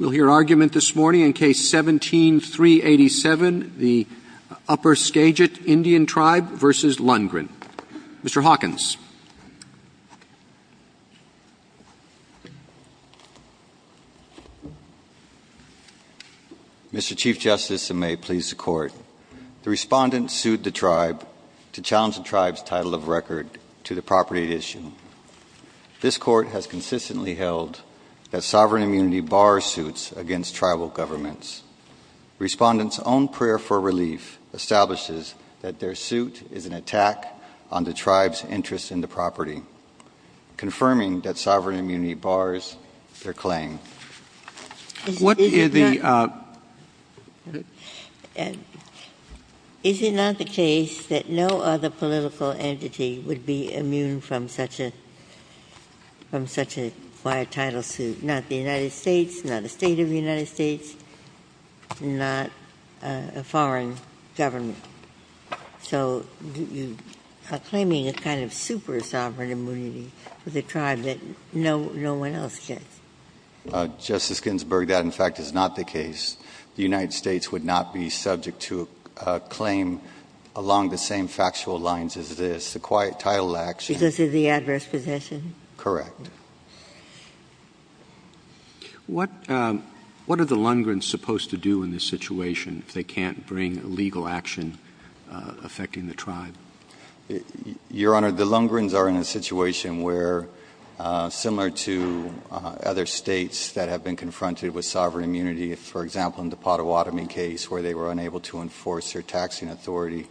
We'll hear argument this morning in Case 17-387, the Upper Skagit Indian Tribe v. Lundgren. Mr. Hawkins. Mr. Chief Justice, and may it please the Court, the Respondent sued the Tribe to challenge the Tribe's title of record to the property at issue. This Court has consistently held that sovereign immunity bars suits against Tribal governments. Respondent's own prayer for relief establishes that their suit is an attack on the Tribe's interest in the property, confirming that sovereign immunity bars their claim. Ginsburg Is it not the case that no other political entity would be immune from such a quiet title suit? Not the United States, not a State of the United States, not a foreign government. So you are claiming a kind of super-sovereign immunity for the Tribe that no one else gets. Justice Ginsburg, that, in fact, is not the title of the action. Correct. What are the Lundgren's supposed to do in this situation if they can't bring legal action affecting the Tribe? Your Honor, the Lundgren's are in a situation where, similar to other States that have been confronted with sovereign immunity, for example, in the Pottawatomie case where they were unable to enforce their taxing authority,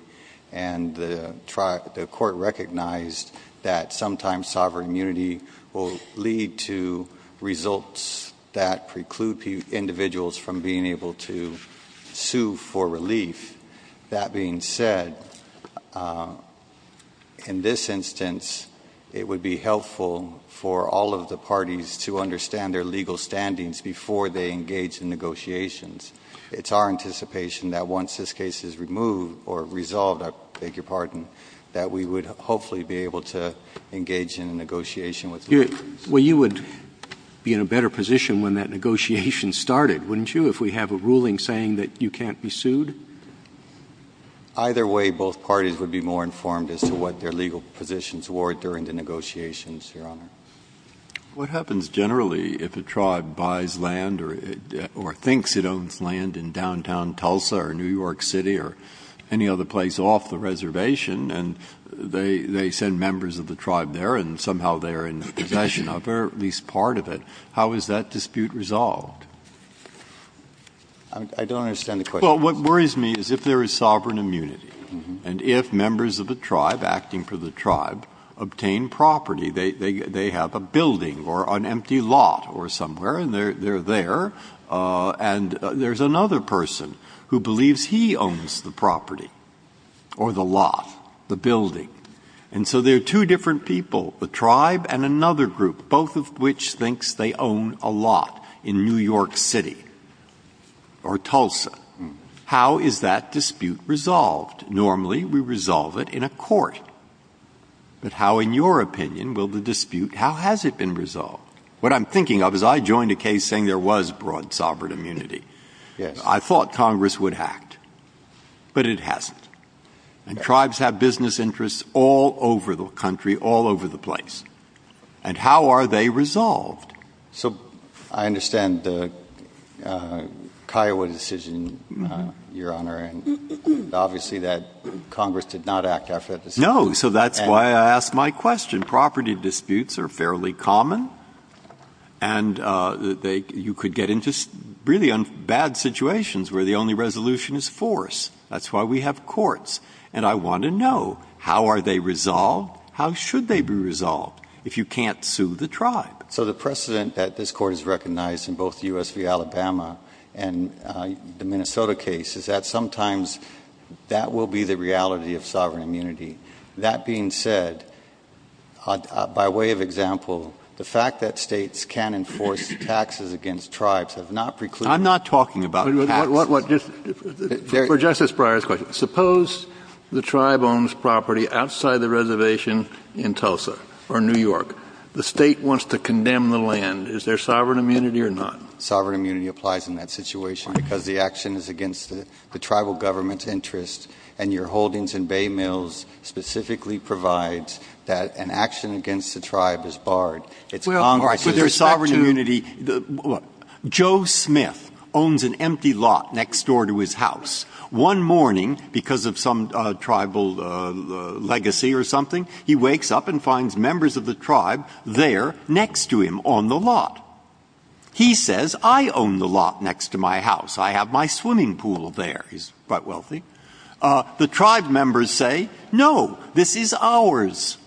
and the Tribe, the Court recognized that sometimes sovereign immunity will lead to results that preclude individuals from being able to sue for relief. That being said, in this instance, it would be helpful for all of the parties to understand their legal standings before they engage in negotiations. It's our anticipation that once this case is removed or resolved, I beg your pardon, that we would hopefully be able to engage in a negotiation with Lundgren's. Well, you would be in a better position when that negotiation started, wouldn't you, if we have a ruling saying that you can't be sued? Either way, both parties would be more informed as to what their legal positions were during the negotiations, Your Honor. What happens generally if a Tribe buys land or thinks it is a place off the reservation and they send members of the Tribe there and somehow they are in possession of it or at least part of it, how is that dispute resolved? I don't understand the question. Well, what worries me is if there is sovereign immunity and if members of the Tribe, acting for the Tribe, obtain property, they have a building or an empty lot or somewhere, and they are there, and there is another person who believes he owns the property or the lot, the building, and so there are two different people, the Tribe and another group, both of which thinks they own a lot in New York City or Tulsa. How is that dispute resolved? Normally, we resolve it in a court. But how, in your opinion, will the dispute be resolved? What I'm thinking of is I joined a case saying there was broad sovereign immunity. I thought Congress would act, but it hasn't. And Tribes have business interests all over the country, all over the place. And how are they resolved? So I understand the Kiowa decision, Your Honor, and obviously that Congress did not act after that decision. No. So that's why I asked my question. Property disputes are fairly common, and you could get into really bad situations where the only resolution is force. That's why we have courts. And I want to know, how are they resolved? How should they be resolved if you can't sue the Tribe? So the precedent that this Court has recognized in both U.S. v. Alabama and the Minnesota case is that sometimes that will be the reality of sovereign immunity. That being said, by way of example, the fact that States can enforce taxes against Tribes have not precluded — I'm not talking about — What, what, what, just — for Justice Breyer's question. Suppose the Tribe owns property outside the reservation in Tulsa or New York. The State wants to condemn the land. Is there sovereign immunity or not? Sovereign immunity applies in that situation because the action is against the Tribal government's interest, and your holdings in Bay Mills specifically provides that an action against the Tribe is barred. It's Congress's respect to — Well, with respect to sovereign immunity, Joe Smith owns an empty lot next door to his house. One morning, because of some Tribal legacy or something, he wakes up and finds members of the I own the lot next to my house. I have my swimming pool there. He's quite wealthy. The Tribe members say, no, this is ours.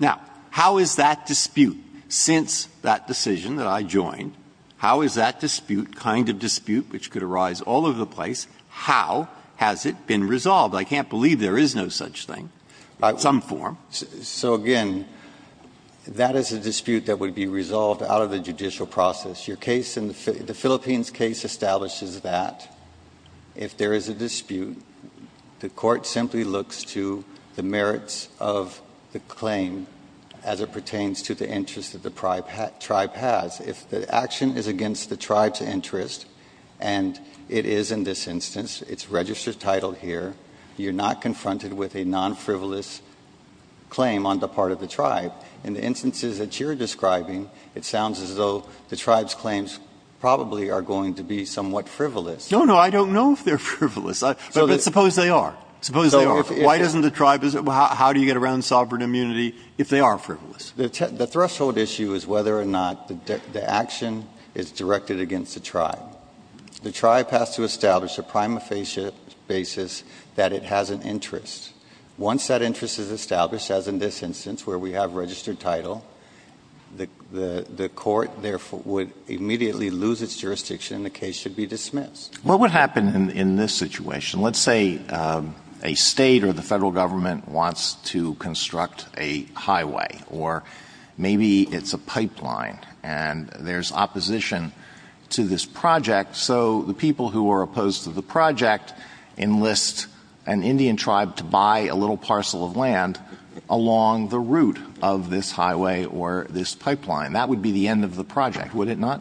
Now, how is that dispute, since that decision that I joined, how is that dispute, kind of dispute which could arise all over the place, how has it been resolved? I can't believe there is no such thing by some form. So, again, that is a dispute that would be resolved out of the judicial process. The Philippines case establishes that if there is a dispute, the Court simply looks to the merits of the claim as it pertains to the interest that the Tribe has. If the action is against the Tribe's interest, and it is in this instance, it's registered title here, you're not confronted with a non-frivolous claim on the part of the Tribe. In the instances that you're describing, it sounds as though the Tribe's claims probably are going to be somewhat frivolous. No, no, I don't know if they're frivolous. But suppose they are. Suppose they are. Why doesn't the Tribe, how do you get around sovereign immunity if they are frivolous? The threshold issue is whether or not the action is directed against the Tribe. The Tribe has to establish a prima facie basis that it has an interest. Once that interest is established, the Court therefore would immediately lose its jurisdiction and the case should be dismissed. Well, what would happen in this situation? Let's say a State or the Federal Government wants to construct a highway, or maybe it's a pipeline, and there's opposition to this project. So the people who are opposed to the project enlist an Indian Tribe to buy a little parcel of land along the route of this highway or this pipeline. That would be the end of the project, would it not?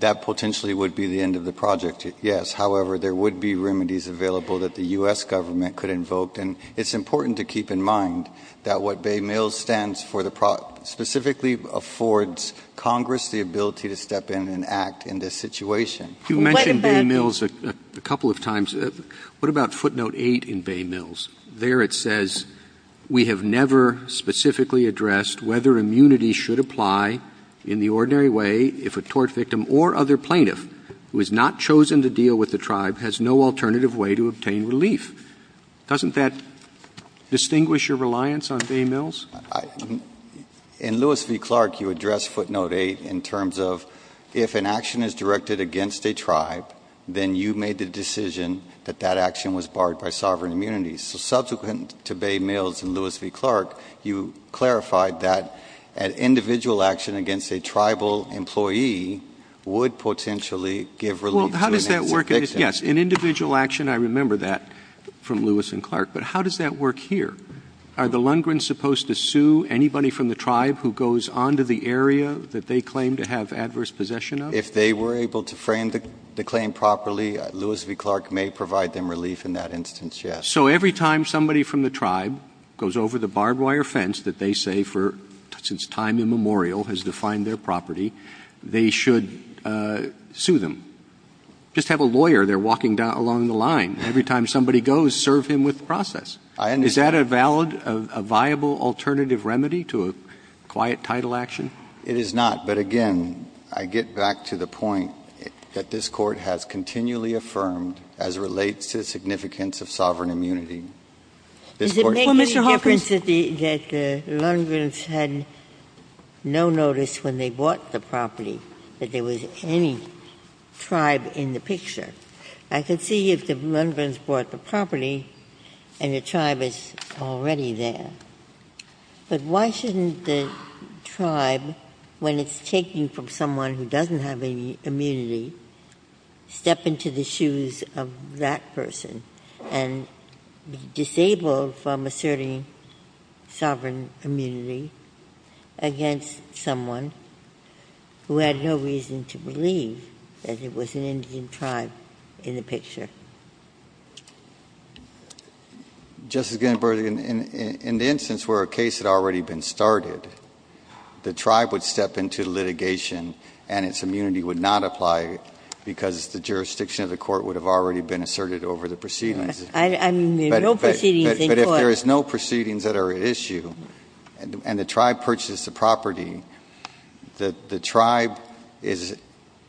That potentially would be the end of the project, yes. However, there would be remedies available that the U.S. Government could invoke. And it's important to keep in mind that what Bay Mills stands for specifically affords Congress the ability to step in and act in this situation. You mentioned Bay Mills a couple of times. What about footnote 8 in Bay Mills? There it says, We have never specifically addressed whether immunity should apply in the ordinary way if a tort victim or other plaintiff who has not chosen to deal with the Tribe has no alternative way to obtain relief. Doesn't that distinguish your reliance on Bay Mills? In Lewis v. Clark, you address footnote 8 in terms of if an action is directed against a Tribe, then you made the decision that that action was barred by sovereign immunity. So subsequent to Bay Mills and Lewis v. Clark, you clarified that an individual action against a Tribal employee would potentially give relief to an innocent victim. Well, how does that work? Yes, an individual action, I remember that from Lewis and Clark. But how does that work here? Are the Lundgrens supposed to sue anybody from the Tribe who goes onto the area that they claim to have adverse possession of? If they were able to frame the claim properly, Lewis v. Clark may provide them relief in that instance, yes. So every time somebody from the Tribe goes over the barbed wire fence that they say for since time immemorial has defined their property, they should sue them. Just have a lawyer there process. Is that a valid, a viable alternative remedy to a quiet title action? It is not. But again, I get back to the point that this Court has continually affirmed as relates to the significance of sovereign immunity. Does it make any difference that the Lundgrens had no notice when they bought the property that there was any Tribe in the picture? I could see if the Lundgrens bought the property and the Tribe is already there. But why shouldn't the Tribe, when it's taking from someone who doesn't have any immunity, step into the shoes of that person and be disabled from asserting sovereign immunity against someone who had no reason to believe that it was an Indian Tribe in the picture? Justice Ginsburg, in the instance where a case had already been started, the Tribe would step into litigation and its immunity would not apply because the jurisdiction of the Court would have already been asserted over the proceedings. I mean, there are no proceedings in court. But if there is no proceedings that are at issue and the Tribe purchased the property, the Tribe is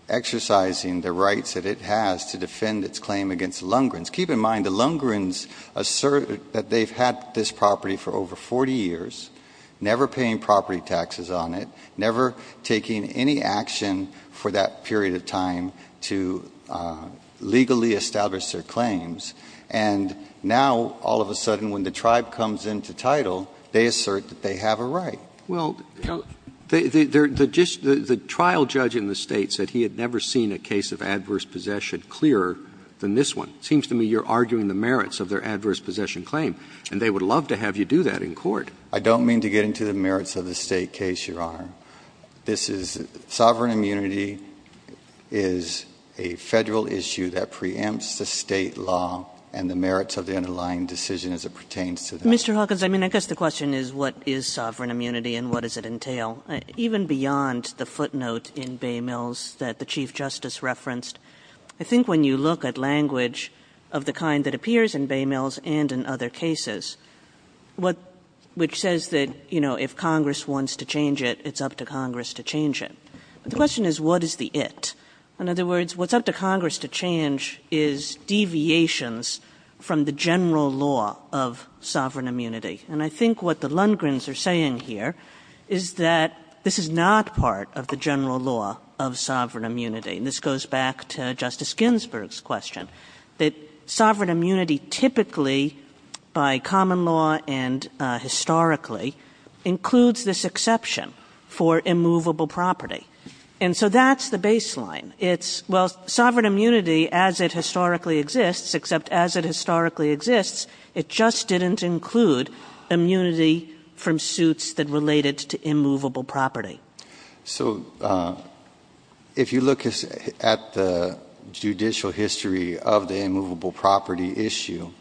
exercising the rights that it has to defend its claim against Lundgrens. Keep in mind, the Lundgrens assert that they've had this property for over 40 years, never paying property taxes on it, never taking any action for that period of time to legally establish their claims. And now, all of a sudden, when the Tribe comes into title, they assert that they have a right. Well, the trial judge in the State said he had never seen a case of adverse possession clearer than this one. It seems to me you're arguing the merits of their adverse possession claim. And they would love to have you do that in court. I don't mean to get into the merits of the State case, Your Honor. This is – sovereign immunity is a Federal issue that preempts the State law and the merits of the underlying decision as it pertains to that. Mr. Hawkins, I mean, I guess the question is what is sovereign immunity and what does it entail? Even beyond the footnote in Baymills that the Chief Justice referenced, I think when you look at language of the kind that appears in Baymills and in other cases, what – which says that, you know, if Congress wants to change it, it's up to Congress to change it. The question is what is the it? In other words, what's up to Congress to change is deviations from the general law of sovereign immunity. And I think what the Lundgrens are saying here is that this is not part of the general law of sovereign immunity. And this goes back to Justice Ginsburg's question, that sovereign immunity typically by common law and historically includes this exception for immovable property. And so that's the baseline. It's – well, sovereign immunity as it historically exists, except as it historically exists, it just didn't include immunity from suits that related to immovable property. So if you look at the judicial history of the immovable property issue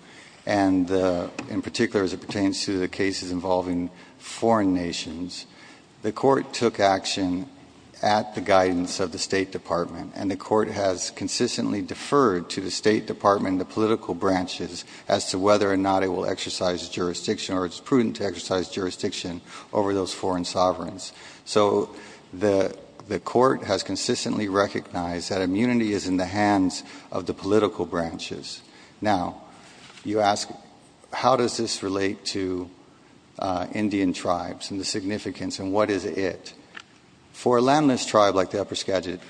and in particular as it pertains to the cases involving foreign nations, the Court took action at the guidance of the State Department and the Court has consistently deferred to the State Department and the political branches as to whether or not it will exercise jurisdiction or it's prudent to exercise jurisdiction over those foreign sovereigns. So the Court has consistently recognized that immunity is in the hands of the political branches. Now, you ask how does this relate to Indian tribes and the significance and what is it? For a landless tribe like the upper Skagit,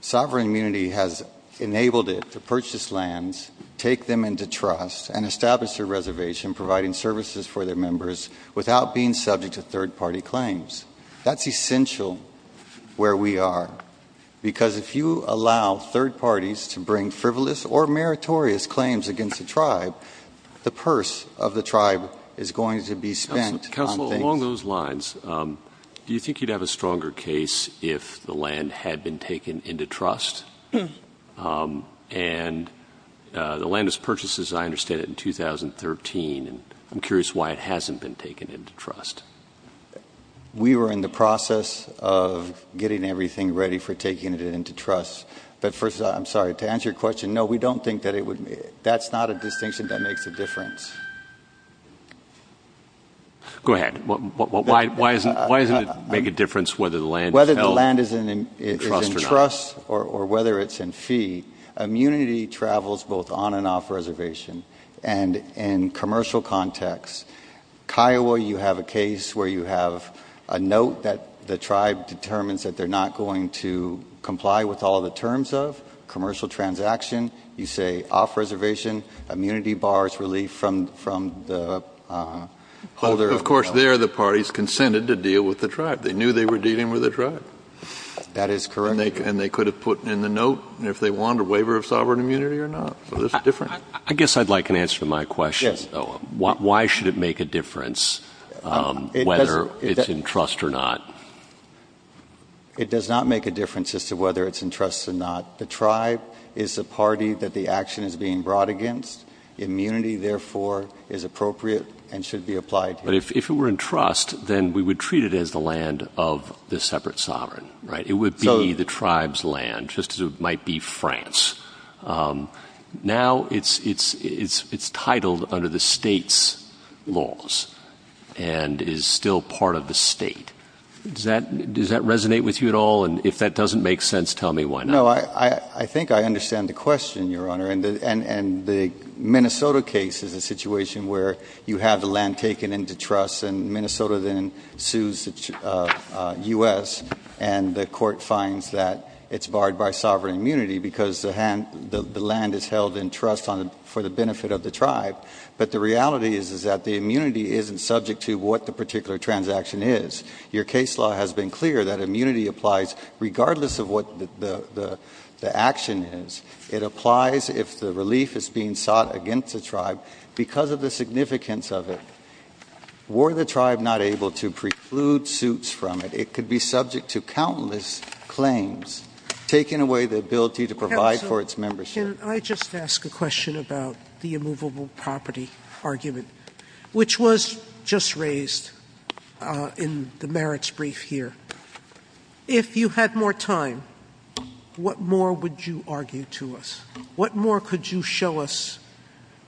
sovereign immunity has enabled it to purchase lands, take them into trust, and establish a reservation providing services for their members without being subject to third-party claims. That's essential where we are, because if you allow third parties to bring frivolous or meritorious claims against a tribe, the purse of the tribe is going to be spent on things— Counsel, along those lines, do you think you'd have a stronger case if the land had been taken into trust? And the land is purchased, as I understand it, in 2013, and I'm curious why it hasn't been taken into trust. We were in the process of getting everything ready for taking it into trust. But first, I'm sorry, to answer your question, no, we don't think that it would—that's not a distinction that makes a difference. Go ahead. Why doesn't it make a difference whether the land is held— In trust or whether it's in fee, immunity travels both on and off reservation. And in commercial context, Kiowa, you have a case where you have a note that the tribe determines that they're not going to comply with all the terms of commercial transaction. You say off reservation, immunity bars relief from the holder of the— But, of course, there the parties consented to deal with the tribe. They knew they were dealing with the tribe. That is correct. And they could have put in the note if they want a waiver of sovereign immunity or not. So this is different. I guess I'd like an answer to my question, though. Yes. Why should it make a difference whether it's in trust or not? It does not make a difference as to whether it's in trust or not. The tribe is the party that the action is being brought against. Immunity, therefore, is appropriate and should be applied here. But if it were in trust, then we would treat it as the land of the separate sovereign, right? It would be the tribe's land, just as it might be France. Now it's titled under the state's laws and is still part of the state. Does that resonate with you at all? And if that doesn't make sense, tell me why not. No, I think I understand the question, Your Honor. And the Minnesota case is a situation where you have the land taken into trust and Minnesota then sues the U.S. and the court finds that it's barred by sovereign immunity because the land is held in trust for the benefit of the tribe. But the reality is that the immunity isn't subject to what the particular transaction is. Your case law has been clear that immunity applies regardless of what the action is. It applies if the relief is being sought against the tribe because of the significance of it. Were the tribe not able to preclude suits from it, it could be subject to countless claims, taking away the ability to provide for its membership. Counsel, can I just ask a question about the immovable property argument, which was just raised in the merits brief here? If you had more time, what more would you argue to us? What more could you show us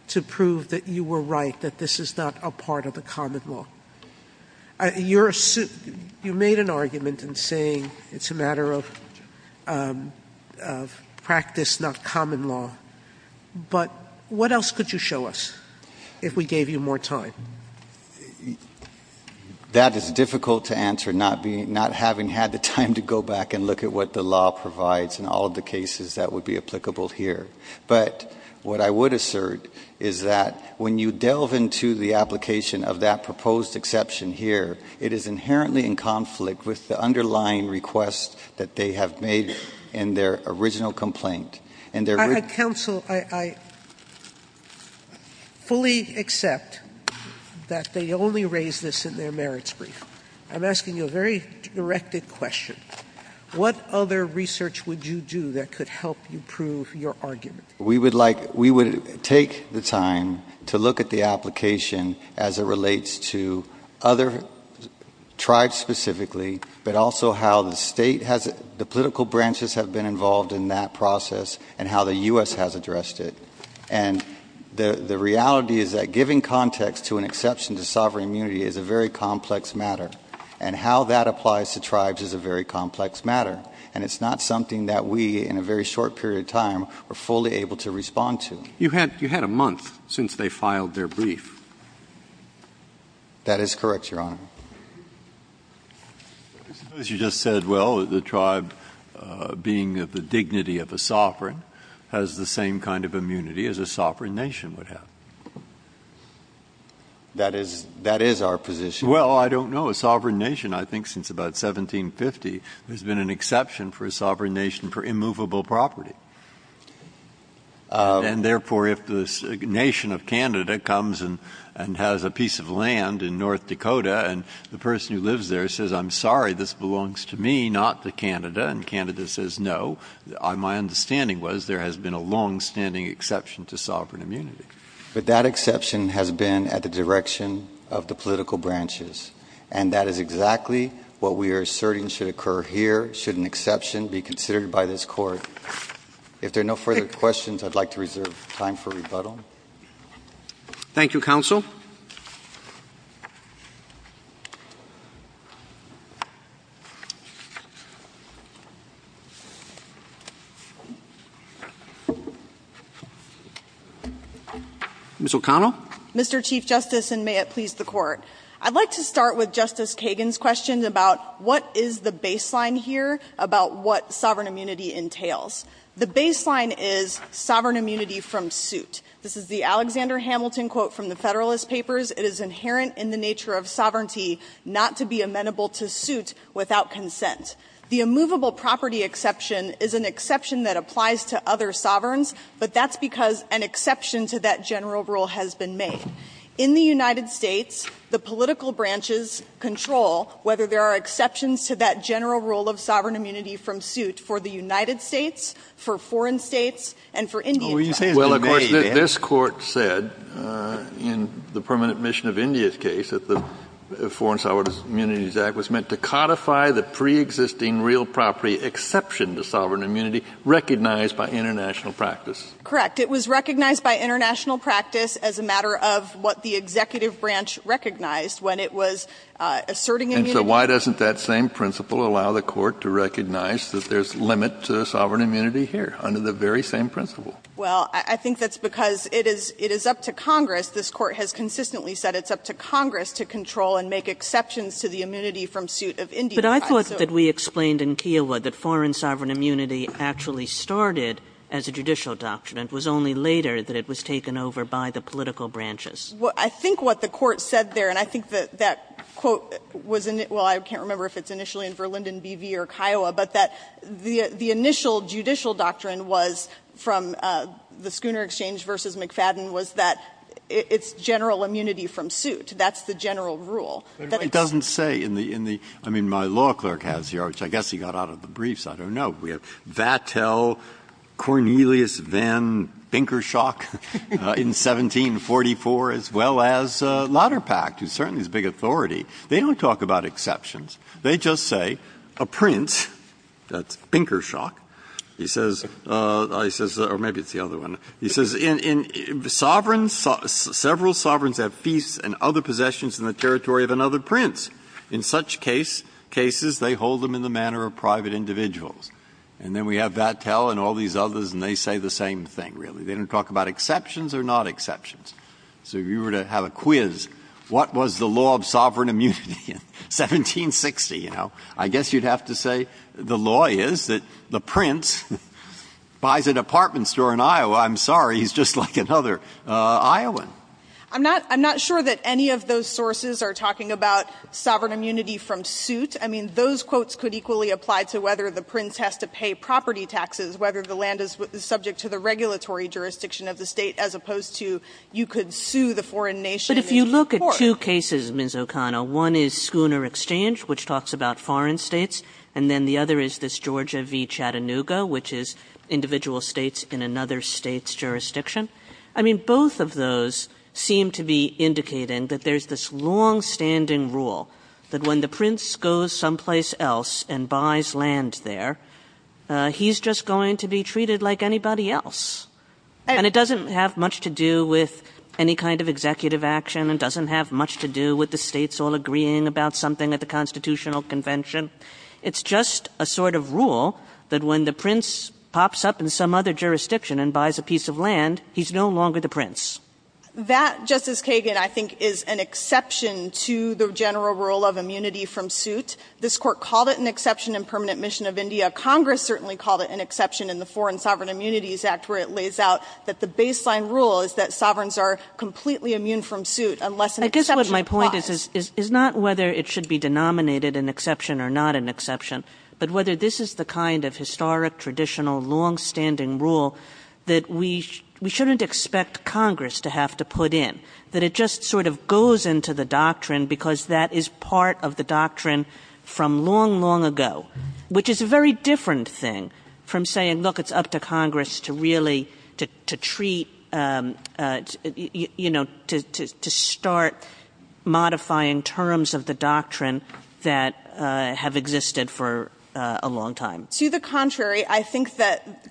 to prove that you were right, that this is not a part of the common law? You made an argument in saying it's a matter of practice, not common law. But what else could you show us if we gave you more time? That is difficult to answer, not having had the time to go back and look at what the law here. But what I would assert is that when you delve into the application of that proposed exception here, it is inherently in conflict with the underlying request that they have made in their original complaint. I fully accept that they only raised this in their merits brief. I'm asking you a very directed question. What other research would you do that could help you prove your argument? We would take the time to look at the application as it relates to other tribes specifically, but also how the political branches have been involved in that process and how the U.S. has addressed it. And the reality is that giving context to an exception to sovereign immunity is a very complex matter. And how that applies to tribes is a very complex matter. And it's not something that we, in a very short period of time, are fully able to respond to. You had a month since they filed their brief. That is correct, Your Honor. I suppose you just said, well, the tribe, being of the dignity of a sovereign, has the same kind of immunity as a sovereign nation would have. That is our position. Well, I don't know. A sovereign nation, I think since about 1750, has been an exception for a sovereign nation for immovable property. And therefore, if the nation of Canada comes and has a piece of land in North Dakota and the person who lives there says, I'm sorry, this belongs to me, not to Canada, and Canada says no, my understanding was there has been a longstanding exception to sovereign immunity. But that exception has been at the direction of the political branches. And that is exactly what we are asserting should occur here, should an exception be considered by this Court. If there are no further questions, I'd like to reserve time for rebuttal. Thank you, Counsel. Ms. O'Connell. Mr. Chief Justice, and may it please the Court. I'd like to start with Justice Kagan's question about what is the baseline here about what sovereign immunity entails. The baseline is sovereign immunity from suit. This is the Alexander Hamilton quote from the Federalist Papers. It is inherent in the nature of sovereignty not to be amenable to suit without consent. The immovable property exception is an exception that applies to other sovereigns, but that's because an exception to that general rule has been made. In the United States, the political branches control whether there are exceptions to that general rule of sovereign immunity from suit for the United States, for foreign states, and for Indian countries. Well, of course, this Court said in the permanent mission of India's case that the Foreign Sovereign Immunities Act was meant to codify the preexisting real property exception to sovereign immunity recognized by international practice. Correct. It was recognized by international practice as a matter of what the executive branch recognized when it was asserting immunity. And so why doesn't that same principle allow the Court to recognize that there's limit to sovereign immunity here under the very same principle? Well, I think that's because it is up to Congress. This Court has consistently said it's up to Congress to control and make exceptions to the immunity from suit of India. But I thought that we explained in Kiowa that foreign sovereign immunity actually started as a judicial doctrine. It was only later that it was taken over by the political branches. Well, I think what the Court said there, and I think that that quote was in it — well, I can't remember if it's initially in Verlinden, B.V., or Kiowa, but that the initial judicial doctrine was from the Schooner Exchange v. McFadden was that it's general immunity from suit. That's the general rule. Breyer. But it doesn't say in the — I mean, my law clerk has here, which I guess he got out of the briefs, I don't know, we have Vattel, Cornelius Van Binkershock in 1744, as well as Lodderpact, who's certainly this big authority. They don't talk about exceptions. They just say a prince, that's Binkershock, he says — he says, or maybe it's the other one. He says, in sovereigns, several sovereigns have feasts and other possessions in the territory of another prince. In such case — cases, they hold them in the manner of private individuals. And then we have Vattel and all these others, and they say the same thing, really. They don't talk about exceptions or not exceptions. So if you were to have a quiz, what was the law of sovereign immunity in 1760, you know, I guess you'd have to say the law is that the prince buys an apartment store in Iowa. I'm sorry, he's just like another Iowan. I'm not — I'm not sure that any of those sources are talking about sovereign immunity from suit. I mean, those quotes could equally apply to whether the prince has to pay property taxes, whether the land is subject to the regulatory jurisdiction of the State, as opposed to you could sue the foreign nation. Kagan. Kagan. But if you look at two cases, Ms. O'Connor, one is Schooner Exchange, which talks about foreign States, and then the other is this Georgia v. Chattanooga, which is individual States in another State's jurisdiction. I mean, both of those seem to be indicating that there's this longstanding rule that when the prince goes someplace else and buys land there, he's just going to be treated like anybody else. And it doesn't have much to do with any kind of executive action and doesn't have much to do with the States all agreeing about something at the constitutional convention. It's just a sort of rule that when the prince pops up in some other jurisdiction and buys a piece of land, he's no longer the prince. O'Connor. That, Justice Kagan, I think is an exception to the general rule of immunity from suit. This Court called it an exception in Permanent Mission of India. Congress certainly called it an exception in the Foreign Sovereign Immunities Act, where it lays out that the baseline rule is that sovereigns are completely immune from suit unless an exception applies. Kagan. I guess what my point is, is not whether it should be denominated an exception or not an exception, but whether this is the kind of historic, traditional, long-standing rule that we shouldn't expect Congress to have to put in, that it just sort of goes into the doctrine because that is part of the doctrine from long, long ago, which is a very different thing from saying, look, it's up to Congress to really, to treat, you know, to start modifying terms of the doctrine that have existed for a long time.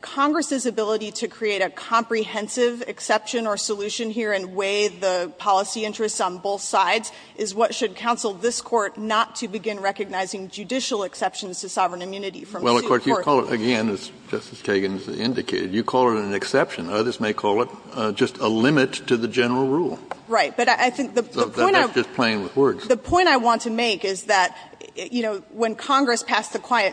Congress's ability to create a comprehensive exception or solution here and weigh the policy interests on both sides is what should counsel this Court not to begin recognizing judicial exceptions to sovereign immunity from suit. Kennedy. Well, of course, you call it, again, as Justice Kagan has indicated, you call it an exception. Others may call it just a limit to the general rule. Right. But I think the point I want to make is that, you know, when Congress passed the Quiet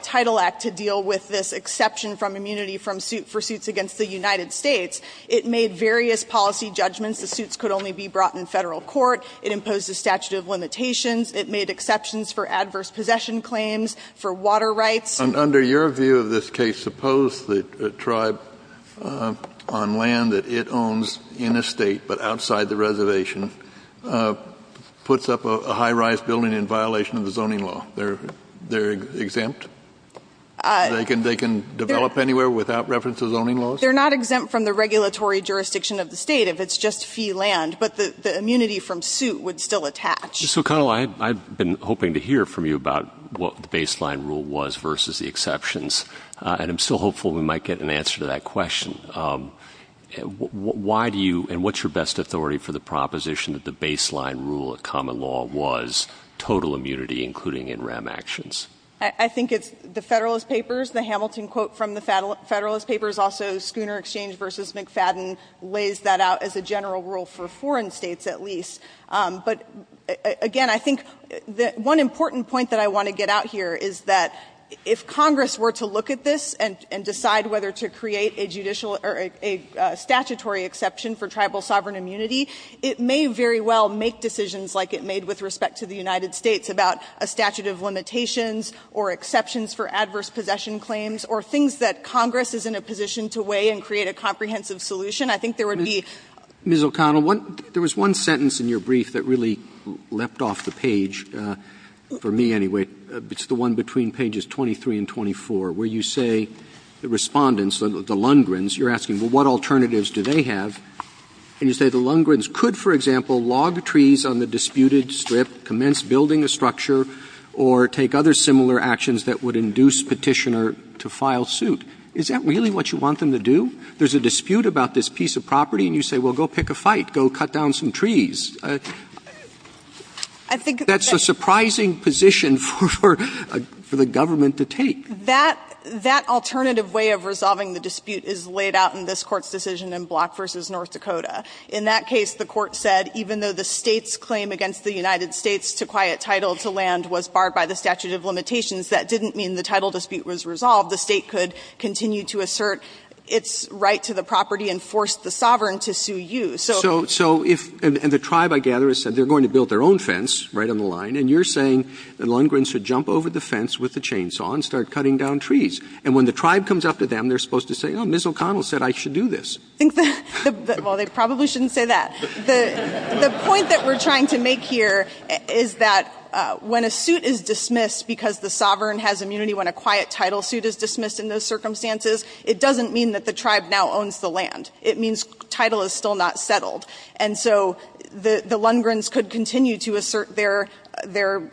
against the United States, it made various policy judgments. The suits could only be brought in Federal court. It imposed a statute of limitations. It made exceptions for adverse possession claims, for water rights. And under your view of this case, suppose that a tribe on land that it owns in a State but outside the reservation puts up a high-rise building in violation of the zoning law. They're exempt? They can develop anywhere without reference to zoning laws? They're not exempt from the regulatory jurisdiction of the State if it's just fee land. But the immunity from suit would still attach. So, Connell, I've been hoping to hear from you about what the baseline rule was versus the exceptions. And I'm still hopeful we might get an answer to that question. Why do you and what's your best authority for the proposition that the baseline rule of common law was total immunity, including NREM actions? I think it's the Federalist Papers, the Hamilton quote from the Federalist Papers. Also, Schooner Exchange v. McFadden lays that out as a general rule for foreign States, at least. But, again, I think one important point that I want to get out here is that if Congress were to look at this and decide whether to create a judicial or a statutory exception for tribal sovereign immunity, it may very well make decisions like it made with respect to the United States about a statute of limitations or exceptions for adverse possession claims or things that Congress is in a position to weigh and create a comprehensive solution. I think there would be Mrs. O'Connell, there was one sentence in your brief that really leapt off the page, for me anyway. It's the one between pages 23 and 24, where you say the Respondents, the Lundgrens, you're asking, well, what alternatives do they have? And you say the Lundgrens could, for example, log trees on the disputed strip, commence building a structure, or take other similar actions that would induce Petitioner to file suit. Is that really what you want them to do? There's a dispute about this piece of property, and you say, well, go pick a fight, go cut down some trees. That's a surprising position for the government to take. That alternative way of resolving the dispute is laid out in this Court's decision in Block v. North Dakota. In that case, the Court said, even though the State's claim against the United States to quiet title to land was barred by the statute of limitations, that didn't mean the title dispute was resolved. The State could continue to assert its right to the property and force the sovereign to sue you. So if the tribe, I gather, said they're going to build their own fence right on the line, and you're saying the Lundgrens should jump over the fence with the chainsaw and start cutting down trees. And when the tribe comes up to them, they're supposed to say, oh, Mrs. O'Connell said I should do this. I think the — well, they probably shouldn't say that. The point that we're trying to make here is that when a suit is dismissed because the sovereign has immunity, when a quiet title suit is dismissed in those circumstances, it doesn't mean that the tribe now owns the land. It means title is still not settled. And so the Lundgrens could continue to assert their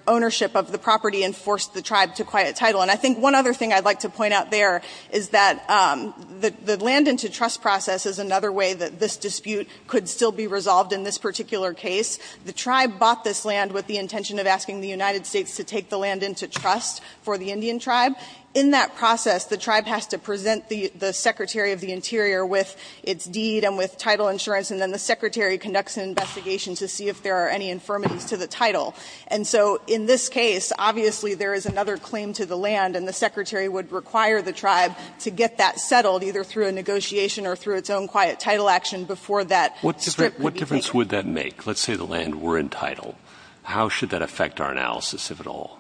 ownership of the property and force the tribe to quiet title. And I think one other thing I'd like to point out there is that the land into trust process is another way that this dispute could still be resolved in this particular case. The tribe bought this land with the intention of asking the United States to take the land into trust for the Indian tribe. In that process, the tribe has to present the Secretary of the Interior with its deed and with title insurance, and then the Secretary conducts an investigation to see if there are any infirmities to the title. And so in this case, obviously there is another claim to the land, and the Secretary would require the tribe to get that settled, either through a negotiation or through its own quiet title action, before that strip would be taken. What difference would that make? Let's say the land were in title. How should that affect our analysis, if at all?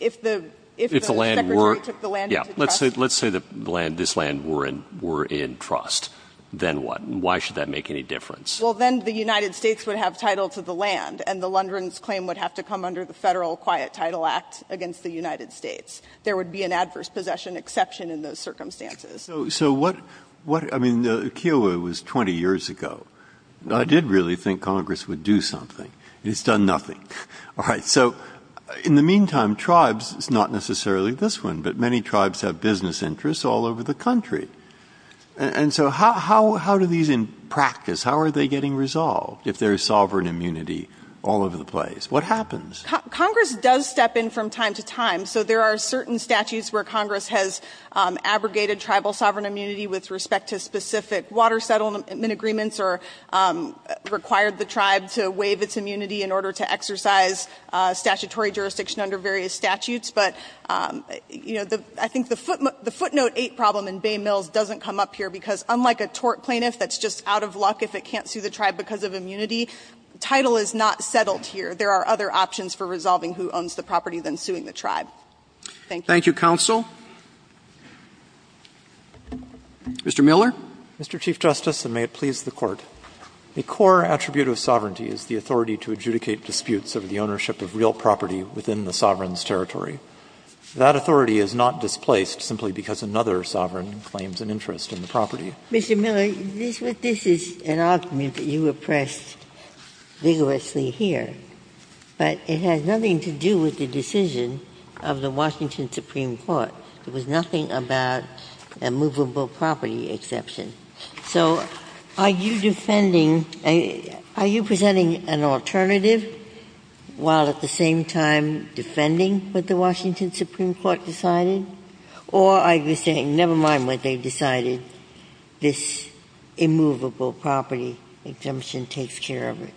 If the Secretary took the land into trust. Let's say this land were in trust. Then what? Why should that make any difference? Well, then the United States would have title to the land, and the Lundgrens' claim would have to come under the Federal Quiet Title Act against the United States. There would be an adverse possession exception in those circumstances. So what, I mean, Kiowa was 20 years ago. I did really think Congress would do something. It's done nothing. All right. So in the meantime, tribes, it's not necessarily this one, but many tribes have business interests all over the country. And so how do these in practice, how are they getting resolved, if there is sovereign immunity all over the place? What happens? Congress does step in from time to time. So there are certain statutes where Congress has abrogated tribal sovereign immunity with respect to specific water settlement agreements or required the tribe to waive its immunity in order to exercise statutory jurisdiction under various statutes. But I think the footnote eight problem in Bay Mills doesn't come up here because unlike a tort plaintiff that's just out of luck if it can't sue the tribe because of immunity, title is not settled here. There are other options for resolving who owns the property than suing the tribe. Thank you. Roberts. Thank you, counsel. Mr. Miller. Mr. Chief Justice, and may it please the Court. A core attribute of sovereignty is the authority to adjudicate disputes over the ownership of real property within the sovereign's territory. That authority is not displaced simply because another sovereign claims an interest in the property. Mr. Miller, this is an argument that you oppressed vigorously here. But it has nothing to do with the decision of the Washington Supreme Court. It was nothing about a movable property exception. So are you defending, are you presenting an alternative while at the same time defending what the Washington Supreme Court decided? Or are you saying never mind what they decided, this immovable property exemption takes care of it?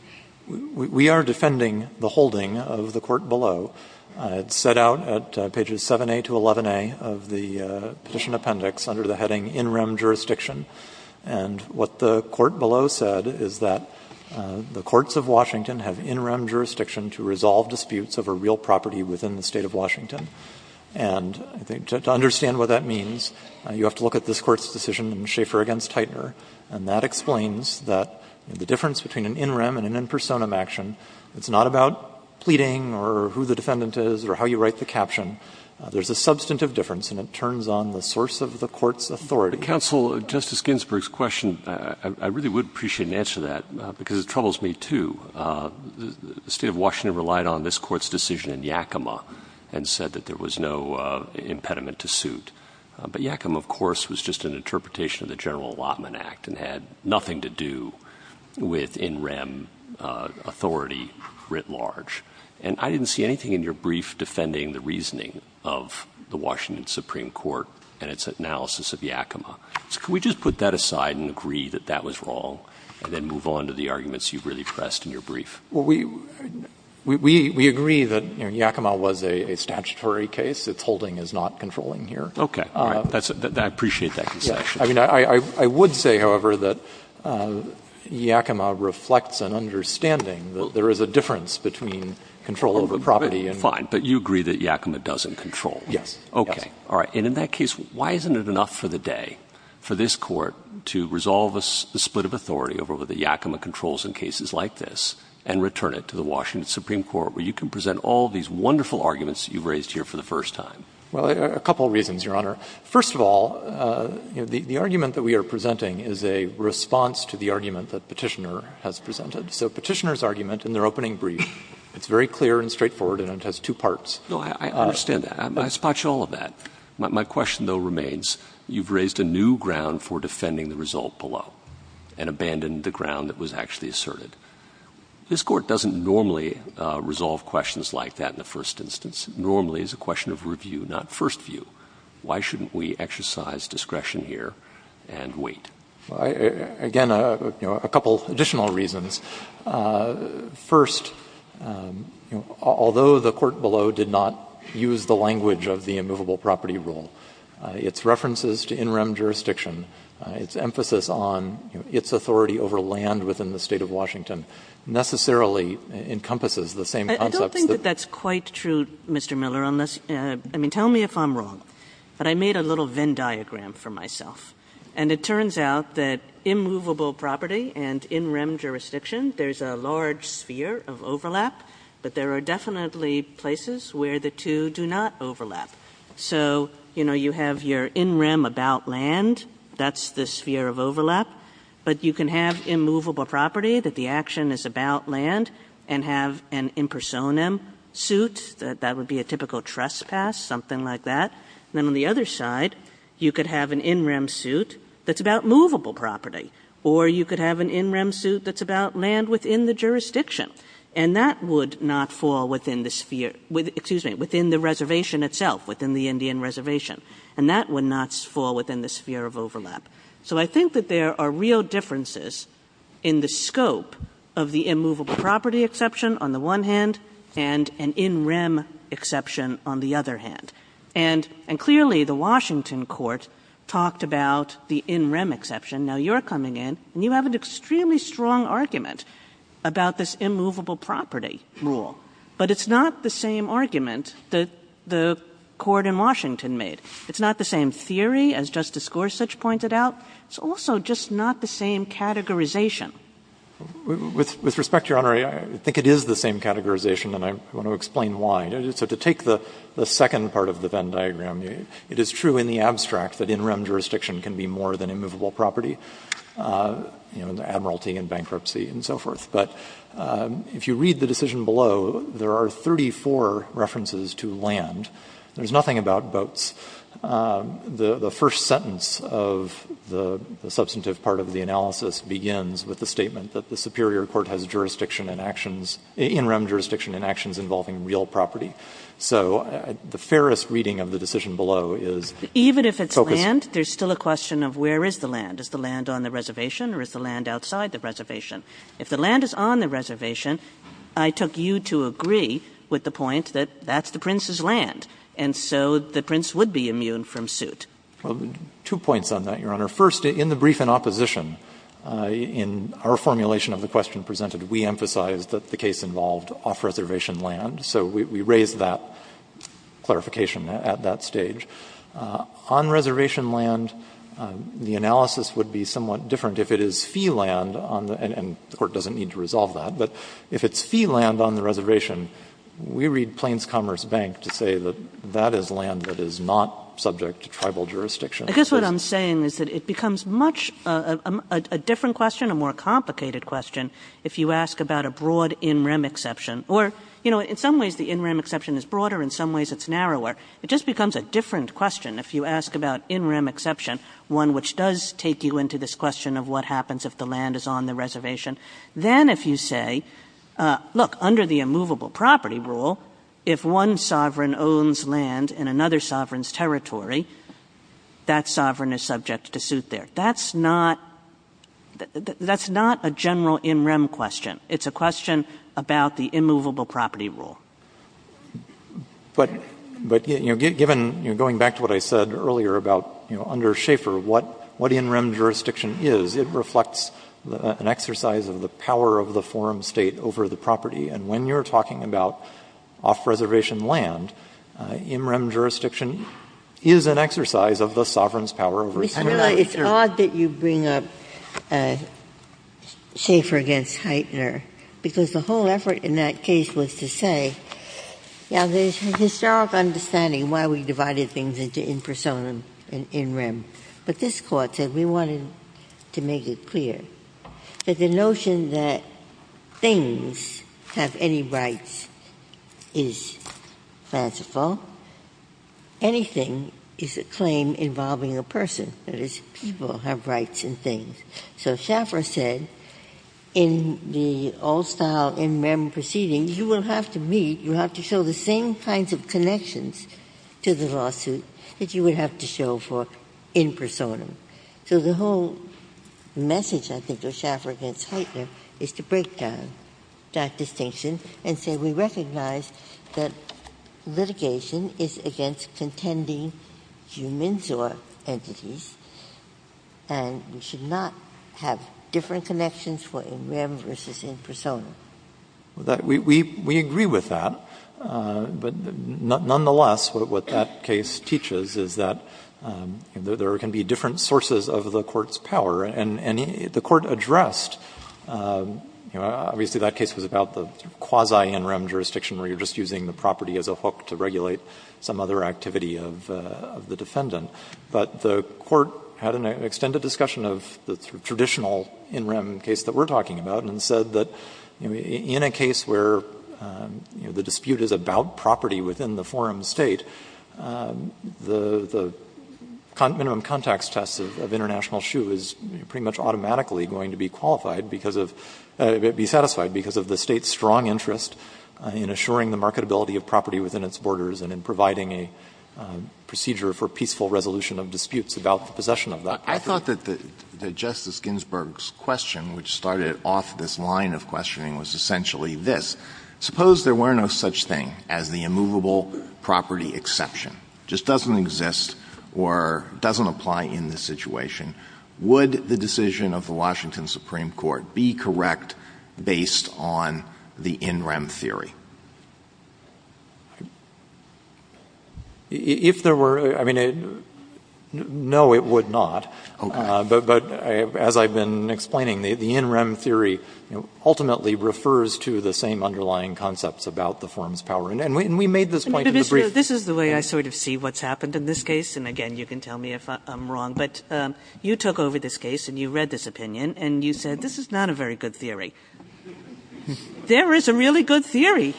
We are defending the holding of the court below. It's set out at pages 7A to 11A of the Petition Appendix under the heading in-rem jurisdiction. And what the court below said is that the courts of Washington have in-rem jurisdiction to resolve disputes over real property within the State of Washington. And I think to understand what that means, you have to look at this Court's decision in Schaeffer v. Heitner, and that explains that the difference between an in-rem and an in personam action, it's not about pleading or who the defendant is or how you write the caption. There's a substantive difference, and it turns on the source of the court's authority. Counsel, Justice Ginsburg's question, I really would appreciate an answer to that because it troubles me, too. The State of Washington relied on this Court's decision in Yakima and said that there was no impediment to suit. But Yakima, of course, was just an interpretation of the General Allotment Act and had nothing to do with in-rem authority writ large. And I didn't see anything in your brief defending the reasoning of the Washington Supreme Court and its analysis of Yakima. So can we just put that aside and agree that that was wrong and then move on to the rest of your brief? Well, we agree that Yakima was a statutory case. Its holding is not controlling here. Okay. I appreciate that conception. I would say, however, that Yakima reflects an understanding that there is a difference between control of a property and— Fine. But you agree that Yakima doesn't control. Yes. Okay. All right. And in that case, why isn't it enough for the day for this Court to resolve a split of authority over the Yakima controls in cases like this and return it to the Washington Supreme Court, where you can present all these wonderful arguments you've raised here for the first time? Well, a couple of reasons, Your Honor. First of all, the argument that we are presenting is a response to the argument that Petitioner has presented. So Petitioner's argument in their opening brief, it's very clear and straightforward and it has two parts. No, I understand that. I spot you all of that. My question, though, remains, you've raised a new ground for defending the result below and abandoned the ground that was actually asserted. This Court doesn't normally resolve questions like that in the first instance. Normally, it's a question of review, not first view. Why shouldn't we exercise discretion here and wait? Again, a couple of additional reasons. First, although the court below did not use the language of the immovable property rule, its references to in-rem jurisdiction, its emphasis on its authority over land within the State of Washington necessarily encompasses the same concepts that I don't think that that's quite true, Mr. Miller, unless, I mean, tell me if I'm wrong. But I made a little Venn diagram for myself. And it turns out that immovable property and in-rem jurisdiction, there's a large sphere of overlap, but there are definitely places where the two do not overlap. So, you know, you have your in-rem about land, that's the sphere of overlap. But you can have immovable property, that the action is about land, and have an impersonem suit, that would be a typical trespass, something like that. Then on the other side, you could have an in-rem suit that's about movable property. Or you could have an in-rem suit that's about land within the jurisdiction. And that would not fall within the sphere, excuse me, within the reservation itself, within the Indian reservation. And that would not fall within the sphere of overlap. So I think that there are real differences in the scope of the immovable property exception on the one hand, and an in-rem exception on the other hand. And clearly, the Washington court talked about the in-rem exception. Now you're coming in, and you have an extremely strong argument about this immovable property rule. But it's not the same argument that the court in Washington made. It's not the same theory as Justice Gorsuch pointed out. It's also just not the same categorization. With respect, Your Honor, I think it is the same categorization, and I want to explain why. So to take the second part of the Venn diagram, it is true in the abstract that in-rem jurisdiction can be more than immovable property, you know, in the admiralty and bankruptcy and so forth. But if you read the decision below, there are 34 references to land. There's nothing about boats. The first sentence of the substantive part of the analysis begins with the statement that the superior court has jurisdiction in actions, in-rem jurisdiction in actions involving real property. So the fairest reading of the decision below is focused on land. But there's still a question of where is the land? Is the land on the reservation or is the land outside the reservation? If the land is on the reservation, I took you to agree with the point that that's the prince's land, and so the prince would be immune from suit. Well, two points on that, Your Honor. First, in the brief in opposition, in our formulation of the question presented, we emphasized that the case involved off-reservation land, so we raised that clarification at that stage. On reservation land, the analysis would be somewhat different if it is fee land on the end, and the Court doesn't need to resolve that. But if it's fee land on the reservation, we read Plains Commerce Bank to say that that is land that is not subject to tribal jurisdiction. Kagan. I guess what I'm saying is that it becomes much a different question, a more complicated question if you ask about a broad in-rem exception. Or, you know, in some ways the in-rem exception is broader, in some ways it's narrower. It just becomes a different question if you ask about in-rem exception, one which does take you into this question of what happens if the land is on the reservation. Then if you say, look, under the immovable property rule, if one sovereign owns land in another sovereign's territory, that sovereign is subject to suit there. That's not a general in-rem question. It's a question about the immovable property rule. But, you know, given, going back to what I said earlier about, you know, under Schaeffer, what in-rem jurisdiction is, it reflects an exercise of the power of the forum State over the property. And when you're talking about off-reservation land, in-rem jurisdiction is an exercise of the sovereign's power over the property. Ginsburg. It's odd that you bring up Schaeffer against Heitner, because the whole effort in that case was to say, you know, there's historic understanding why we divided things into in-persona and in-rem. But this Court said we wanted to make it clear that the notion that things have any rights is fanciful, anything is a claim involving a person. That is, people have rights in things. So Schaeffer said in the all-style in-rem proceedings, you will have to meet, you have to show the same kinds of connections to the lawsuit that you would have to show for in-persona. So the whole message, I think, of Schaeffer against Heitner is to break down that distinction and say we recognize that litigation is against contending humans or entities and we should not have different connections for in-rem versus in-persona. Well, we agree with that. But nonetheless, what that case teaches is that there can be different sources of the Court's power. And the Court addressed, you know, obviously that case was about the quasi-in-rem jurisdiction where you're just using the property as a hook to regulate some other activity of the defendant. But the Court had an extended discussion of the traditional in-rem case that we're talking about and said that in a case where the dispute is about property within the forum state, the minimum context test of international shoe is pretty much automatically going to be qualified because of, be satisfied because of the state's strong interest in assuring the marketability of property within its borders and in terms of the resolution of disputes about the possession of that property. I thought that Justice Ginsburg's question, which started off this line of questioning, was essentially this. Suppose there were no such thing as the immovable property exception. It just doesn't exist or doesn't apply in this situation. Would the decision of the Washington Supreme Court be correct based on the in-rem theory? If there were, I mean, no it would not. But as I've been explaining, the in-rem theory ultimately refers to the same underlying concepts about the forum's power. And we made this point at the brief. Kagan. And, Mr. Lowery, this is the way I sort of see what's happened in this case. And, again, you can tell me if I'm wrong. But you took over this case and you read this opinion, and you said this is not a very good theory. There is a really good theory.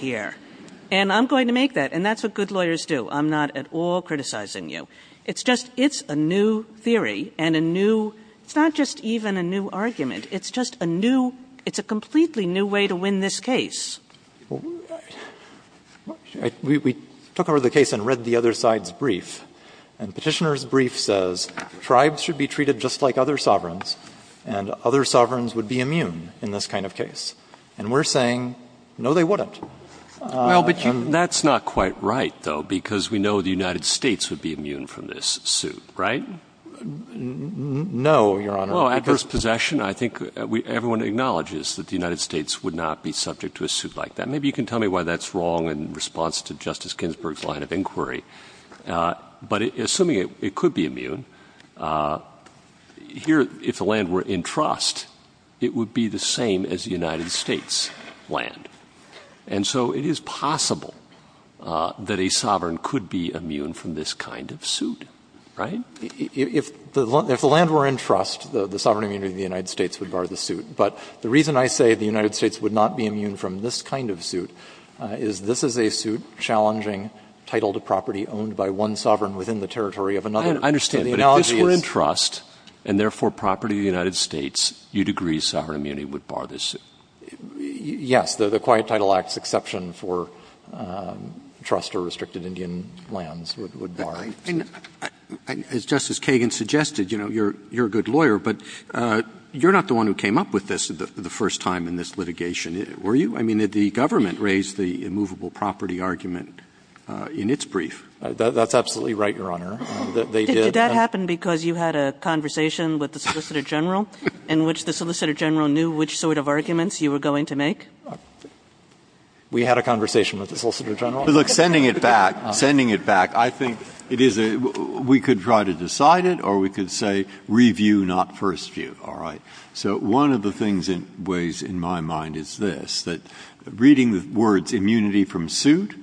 And I'm going to make that, and that's what good lawyers do. I'm not at all criticizing you. It's just, it's a new theory and a new, it's not just even a new argument. It's just a new, it's a completely new way to win this case. We took over the case and read the other side's brief. And Petitioner's brief says tribes should be treated just like other sovereigns, and other sovereigns would be immune in this kind of case. And we're saying, no, they wouldn't. Well, but you – That's not quite right, though, because we know the United States would be immune from this suit, right? No, Your Honor. Well, adverse possession, I think everyone acknowledges that the United States would not be subject to a suit like that. Maybe you can tell me why that's wrong in response to Justice Ginsburg's line of inquiry. But assuming it could be immune, here, if the land were in trust, it would be the same as the United States' land. And so it is possible that a sovereign could be immune from this kind of suit, right? If the land were in trust, the sovereign immunity of the United States would bar the suit. But the reason I say the United States would not be immune from this kind of suit is this is a suit challenging title to property owned by one sovereign within the territory of another. I understand, but if this were in trust, and therefore property of the United States, you'd agree sovereign immunity would bar this suit? Yes. The Quiet Title Act's exception for trust or restricted Indian lands would bar. As Justice Kagan suggested, you're a good lawyer, but you're not the one who came up with this the first time in this litigation, were you? I mean, did the government raise the immovable property argument in its brief? That's absolutely right, Your Honor. They did. Did that happen because you had a conversation with the Solicitor General in which the Solicitor General knew which sort of arguments you were going to make? We had a conversation with the Solicitor General. Look, sending it back, sending it back, I think it is a, we could try to decide it or we could say review, not first view, all right? So one of the things in ways in my mind is this, that reading the words immunity from suit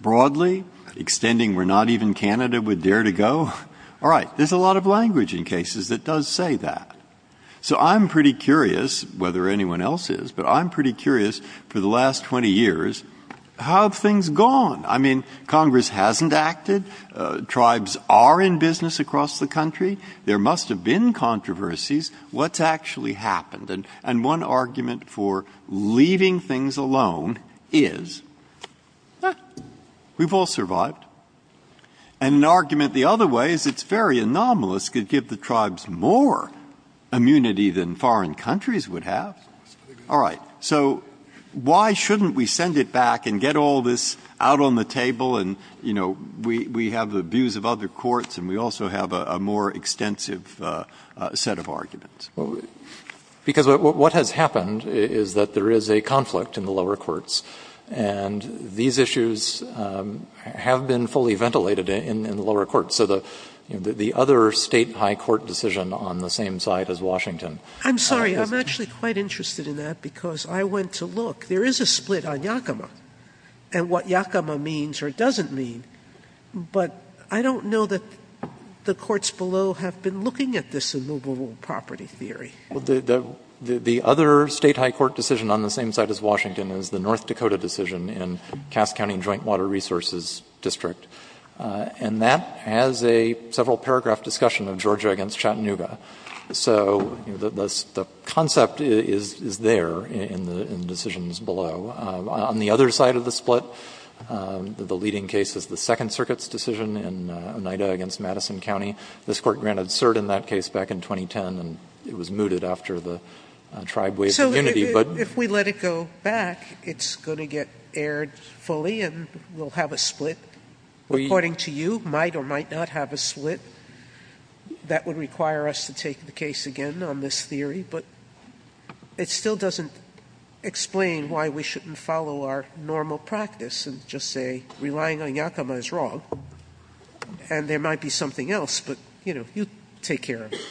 broadly, extending we're not even Canada, we dare to go, all right, there's a lot of language in cases that does say that. So I'm pretty curious whether anyone else is, but I'm pretty curious for the last 20 years, how have things gone? I mean, Congress hasn't acted, tribes are in business across the country, there must have been controversies, what's actually happened? And one argument for leaving things alone is, we've all survived. And an argument the other way is it's very anomalous, could give the tribes more immunity than foreign countries would have. All right, so why shouldn't we send it back and get all this out on the table and we have the views of other courts and we also have a more extensive set of arguments? Because what has happened is that there is a conflict in the lower courts and these issues have been fully ventilated in the lower courts. So the other state high court decision on the same side as Washington. I'm sorry, I'm actually quite interested in that because I went to look, there is a split on Yakima and what Yakima means or doesn't mean. But I don't know that the courts below have been looking at this immovable property theory. The other state high court decision on the same side as Washington is the North Dakota decision in Cass County Joint Water Resources District. And that has a several paragraph discussion of Georgia against Chattanooga. So the concept is there in the decisions below. On the other side of the split, the leading case is the Second Circuit's decision in Oneida against Madison County, this court granted cert in that case back in 2010 and it was mooted after the tribe ways of unity, but- If we let it go back, it's going to get aired fully and we'll have a split. According to you, might or might not have a split. That would require us to take the case again on this theory, but it still doesn't explain why we shouldn't follow our normal practice and just say relying on Yakima is wrong, and there might be something else. But you take care of it.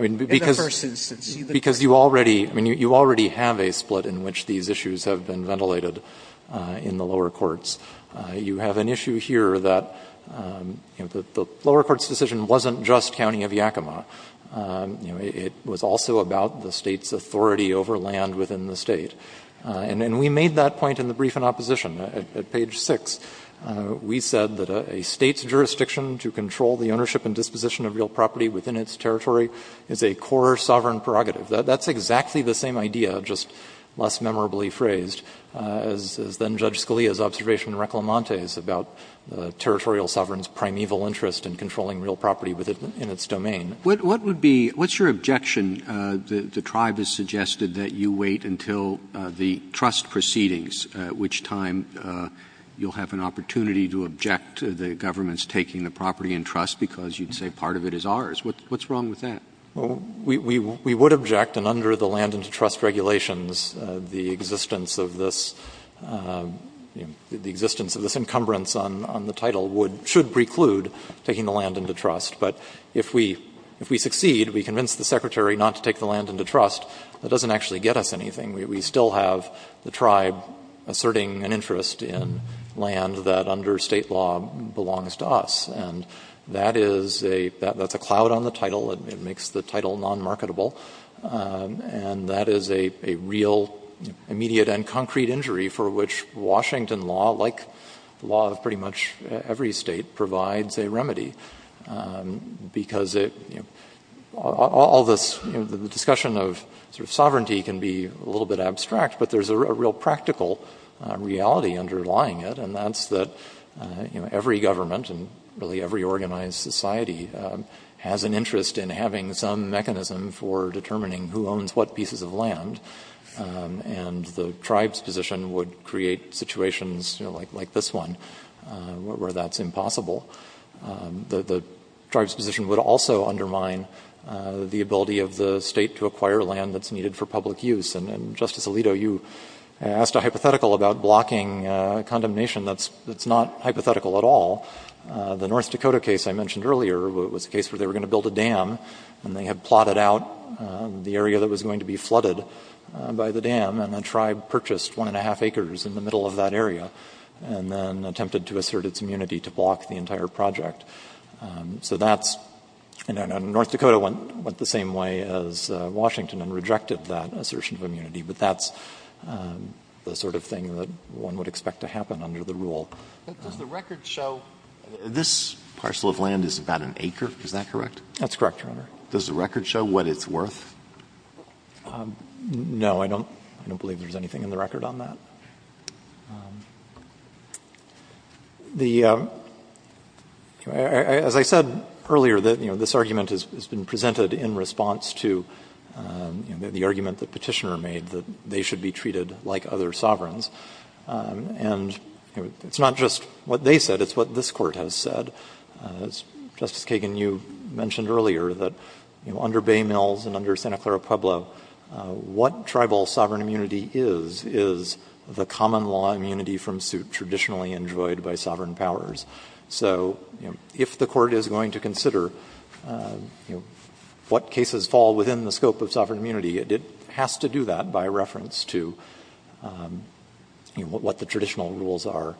In the first instance. Because you already have a split in which these issues have been ventilated in the lower courts. You have an issue here that the lower court's decision wasn't just county of Yakima. It was also about the state's authority over land within the state. And we made that point in the brief in opposition. At page six, we said that a state's jurisdiction to control the ownership and its territory is a core sovereign prerogative. That's exactly the same idea, just less memorably phrased. As then Judge Scalia's observation in Reclamante's about territorial sovereign's primeval interest in controlling real property within its domain. What would be, what's your objection? The tribe has suggested that you wait until the trust proceedings, at which time you'll have an opportunity to object to the government's taking the property in trust because you'd say part of it is ours. What's wrong with that? Well, we would object, and under the land into trust regulations, the existence of this encumbrance on the title should preclude taking the land into trust. But if we succeed, we convince the secretary not to take the land into trust. That doesn't actually get us anything. We still have the tribe asserting an interest in land that under state law belongs to us. That's a cloud on the title. It makes the title non-marketable, and that is a real immediate and concrete injury for which Washington law, like the law of pretty much every state, provides a remedy because all this discussion of sort of sovereignty can be a little bit abstract, but there's a real practical reality underlying it. And that's that every government, and really every organized society, has an interest in having some mechanism for determining who owns what pieces of land. And the tribe's position would create situations like this one, where that's impossible. The tribe's position would also undermine the ability of the state to acquire land that's needed for public use. And Justice Alito, you asked a hypothetical about blocking condemnation that's not hypothetical at all. The North Dakota case I mentioned earlier was a case where they were going to build a dam, and they had plotted out the area that was going to be flooded by the dam. And the tribe purchased one and a half acres in the middle of that area, and then attempted to assert its immunity to block the entire project. So that's — and North Dakota went the same way as Washington and rejected that assertion of immunity. But that's the sort of thing that one would expect to happen under the rule. Alito But does the record show — this parcel of land is about an acre, is that correct? Miller That's correct, Your Honor. Alito Does the record show what it's worth? Miller No, I don't believe there's anything in the record on that. The — as I said earlier, this argument has been presented in response to the argument that Petitioner made that they should be treated like other sovereigns. And it's not just what they said, it's what this Court has said. Justice Kagan, you mentioned earlier that, you know, under Bay Mills and under Santa Clara Pueblo, what tribal sovereign immunity is, is the common law immunity from suit traditionally enjoyed by sovereign powers. So, you know, if the Court is going to consider, you know, what cases fall within the scope of sovereign immunity, it has to do that by reference to, you know, what the traditional rules are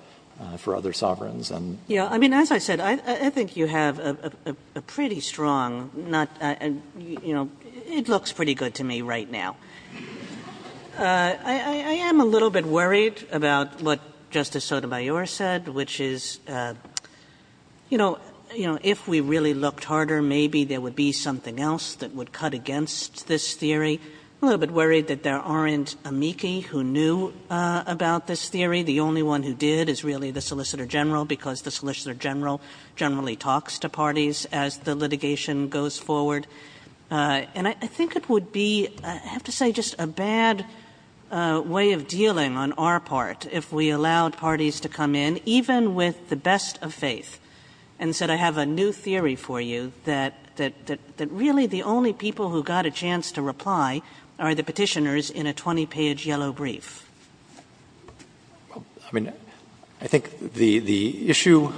for other sovereigns. Kagan Yeah, I mean, as I said, I think you have a pretty strong — you know, it looks pretty good to me right now. I am a little bit worried about what Justice Sotomayor said, which is, you know, if we really looked harder, maybe there would be something else that would cut against this theory. I'm a little bit worried that there aren't amici who knew about this theory. The only one who did is really the Solicitor General, because the Solicitor General generally talks to parties as the litigation goes forward. And I think it would be, I have to say, just a bad way of dealing on our part if we allowed parties to come in, even with the best of faith, and said, I have a new theory for you, that really the only people who got a chance to reply are the petitioners in a 20-page yellow brief. I mean, I think the issue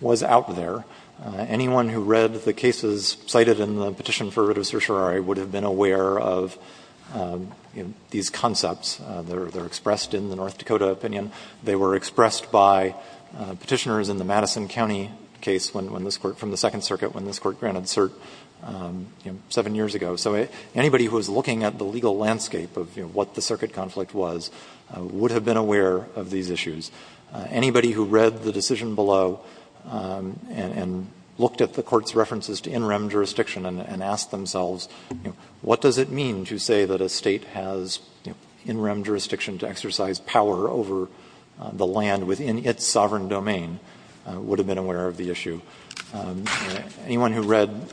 was out there. Anyone who read the cases cited in the petition for writ of certiorari would have been aware of these concepts. They're expressed in the North Dakota opinion. They were expressed by petitioners in the Madison County case when this Court, from the Second Circuit, when this Court granted cert, you know, seven years ago. So anybody who was looking at the legal landscape of what the circuit conflict was would have been aware of these issues. Anybody who read the decision below and looked at the Court's references to in rem jurisdiction and asked themselves, you know, what does it mean to say that a State has, you know, in rem jurisdiction to exercise power over the land within its sovereign domain would have been aware of the issue. Anyone who read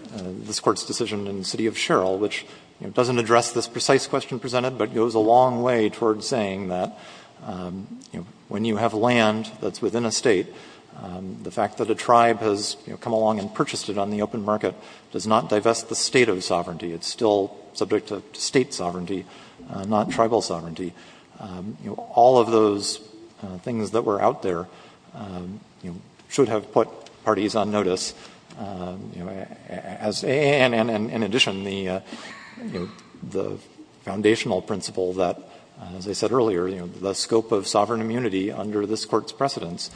this Court's decision in the City of Sherrill, which doesn't address this precise question presented, but goes a long way toward saying that, you know, when you have land that's within a State, the fact that a tribe has, you know, come along and purchased it on the open market does not divest the State of sovereignty. It's still subject to State sovereignty, not tribal sovereignty. You know, all of those things that were out there, you know, should have put parties on notice, you know, as a, and in addition, the, you know, the foundational principle that, as I said earlier, you know, the scope of sovereign immunity under this Court's precedence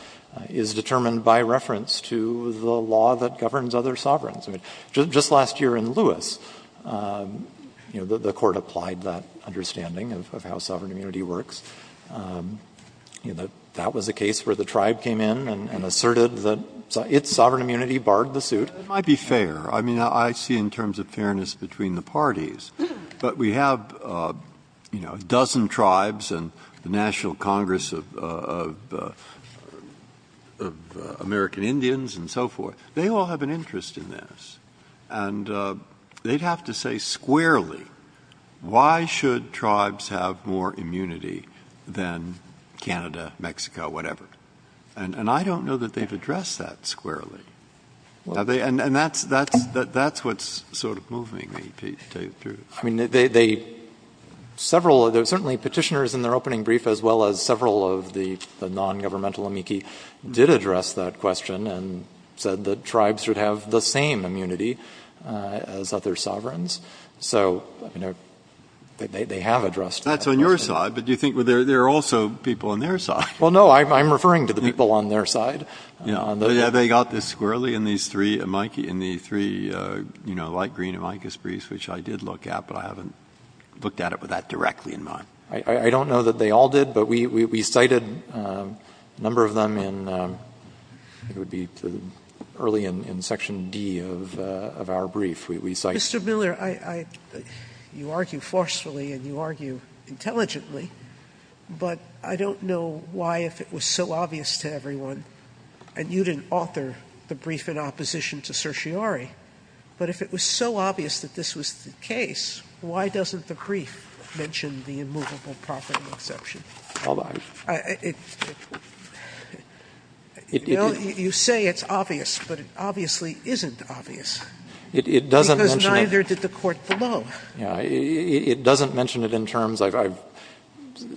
is determined by reference to the law that governs other sovereigns. I mean, just last year in Lewis, you know, the Court applied that understanding of how sovereign immunity works. You know, that was a case where the tribe came in and asserted that its sovereign immunity barred the suit. Breyer, I mean, I see in terms of fairness between the parties, but we have, you know, a dozen tribes and the National Congress of American Indians and so forth. They all have an interest in this, and they'd have to say squarely, why should tribes have more immunity than Canada, Mexico, whatever? And I don't know that they've addressed that squarely. And that's what's sort of moving me, to tell you the truth. I mean, they, several, certainly petitioners in their opening brief, as well as several of the non-governmental amici, did address that question and said that tribes should have the same immunity as other sovereigns. So, you know, they have addressed that question. That's on your side, but do you think there are also people on their side? Well, no, I'm referring to the people on their side. Yeah, they got this squarely in these three amici, in the three, you know, light green amicus briefs, which I did look at, but I haven't looked at it with that directly in mind. I don't know that they all did, but we cited a number of them in, it would be early in Section D of our brief. Mr. Miller, you argue forcefully and you argue intelligently, but I don't know why, if it was so obvious to everyone, and you didn't author the brief in opposition to certiorari, but if it was so obvious that this was the case, why doesn't the brief mention the immovable property exception? You say it's obvious, but it obviously isn't obvious. It doesn't mention it in terms, I've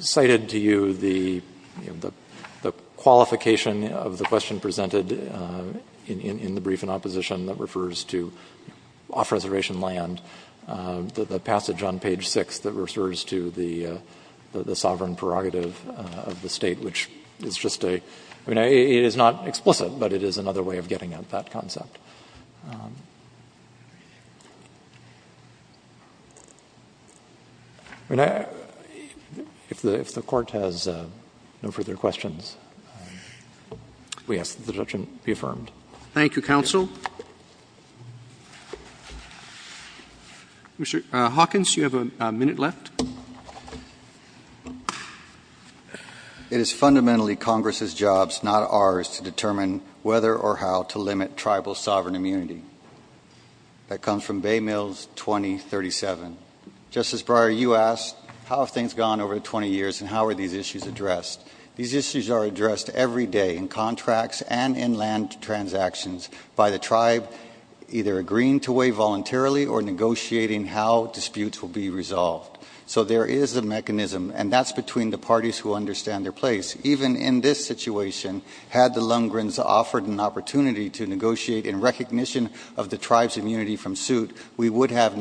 cited to you the qualification of the question presented in the brief in opposition that refers to off-reservation land, the passage on page 6 that refers to the sovereign prerogative of the State, which is just a, I mean, it is not explicit, but it is another way of getting at that concept. I mean, if the Court has no further questions, we ask that the objection be affirmed. Thank you, counsel. Mr. Hawkins, you have a minute left. It is fundamentally Congress's jobs, not ours, to determine whether or how to limit tribal sovereign immunity. That comes from Bay Mills 2037. Justice Breyer, you asked, how have things gone over the 20 years, and how are these issues addressed? These issues are addressed every day, in contracts and in land transactions, by the tribe either agreeing to weigh voluntarily or negotiating how disputes will be resolved. So there is a mechanism, and that's between the parties who understand their place. Even in this situation, had the Lundgrens offered an opportunity to negotiate in recognition of the tribe's immunity from suit, we would have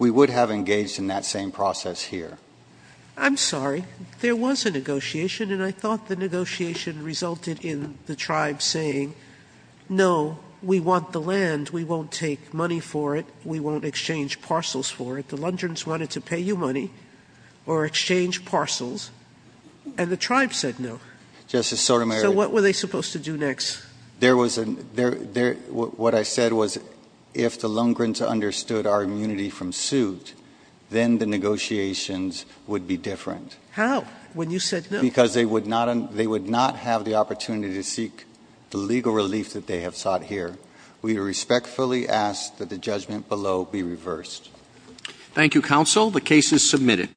engaged in that same process here. I'm sorry. There was a negotiation, and I thought the negotiation resulted in the tribe saying, no, we want the land. We won't take money for it. We won't exchange parcels for it. The Lundgrens wanted to pay you money or exchange parcels. And the tribe said no. Justice Sotomayor. So what were they supposed to do next? There was, what I said was, if the Lundgrens understood our immunity from suit, then the negotiations would be different. How? When you said no. Because they would not have the opportunity to seek the legal relief that they have sought here. We respectfully ask that the judgment below be reversed. Thank you, counsel. The case is submitted.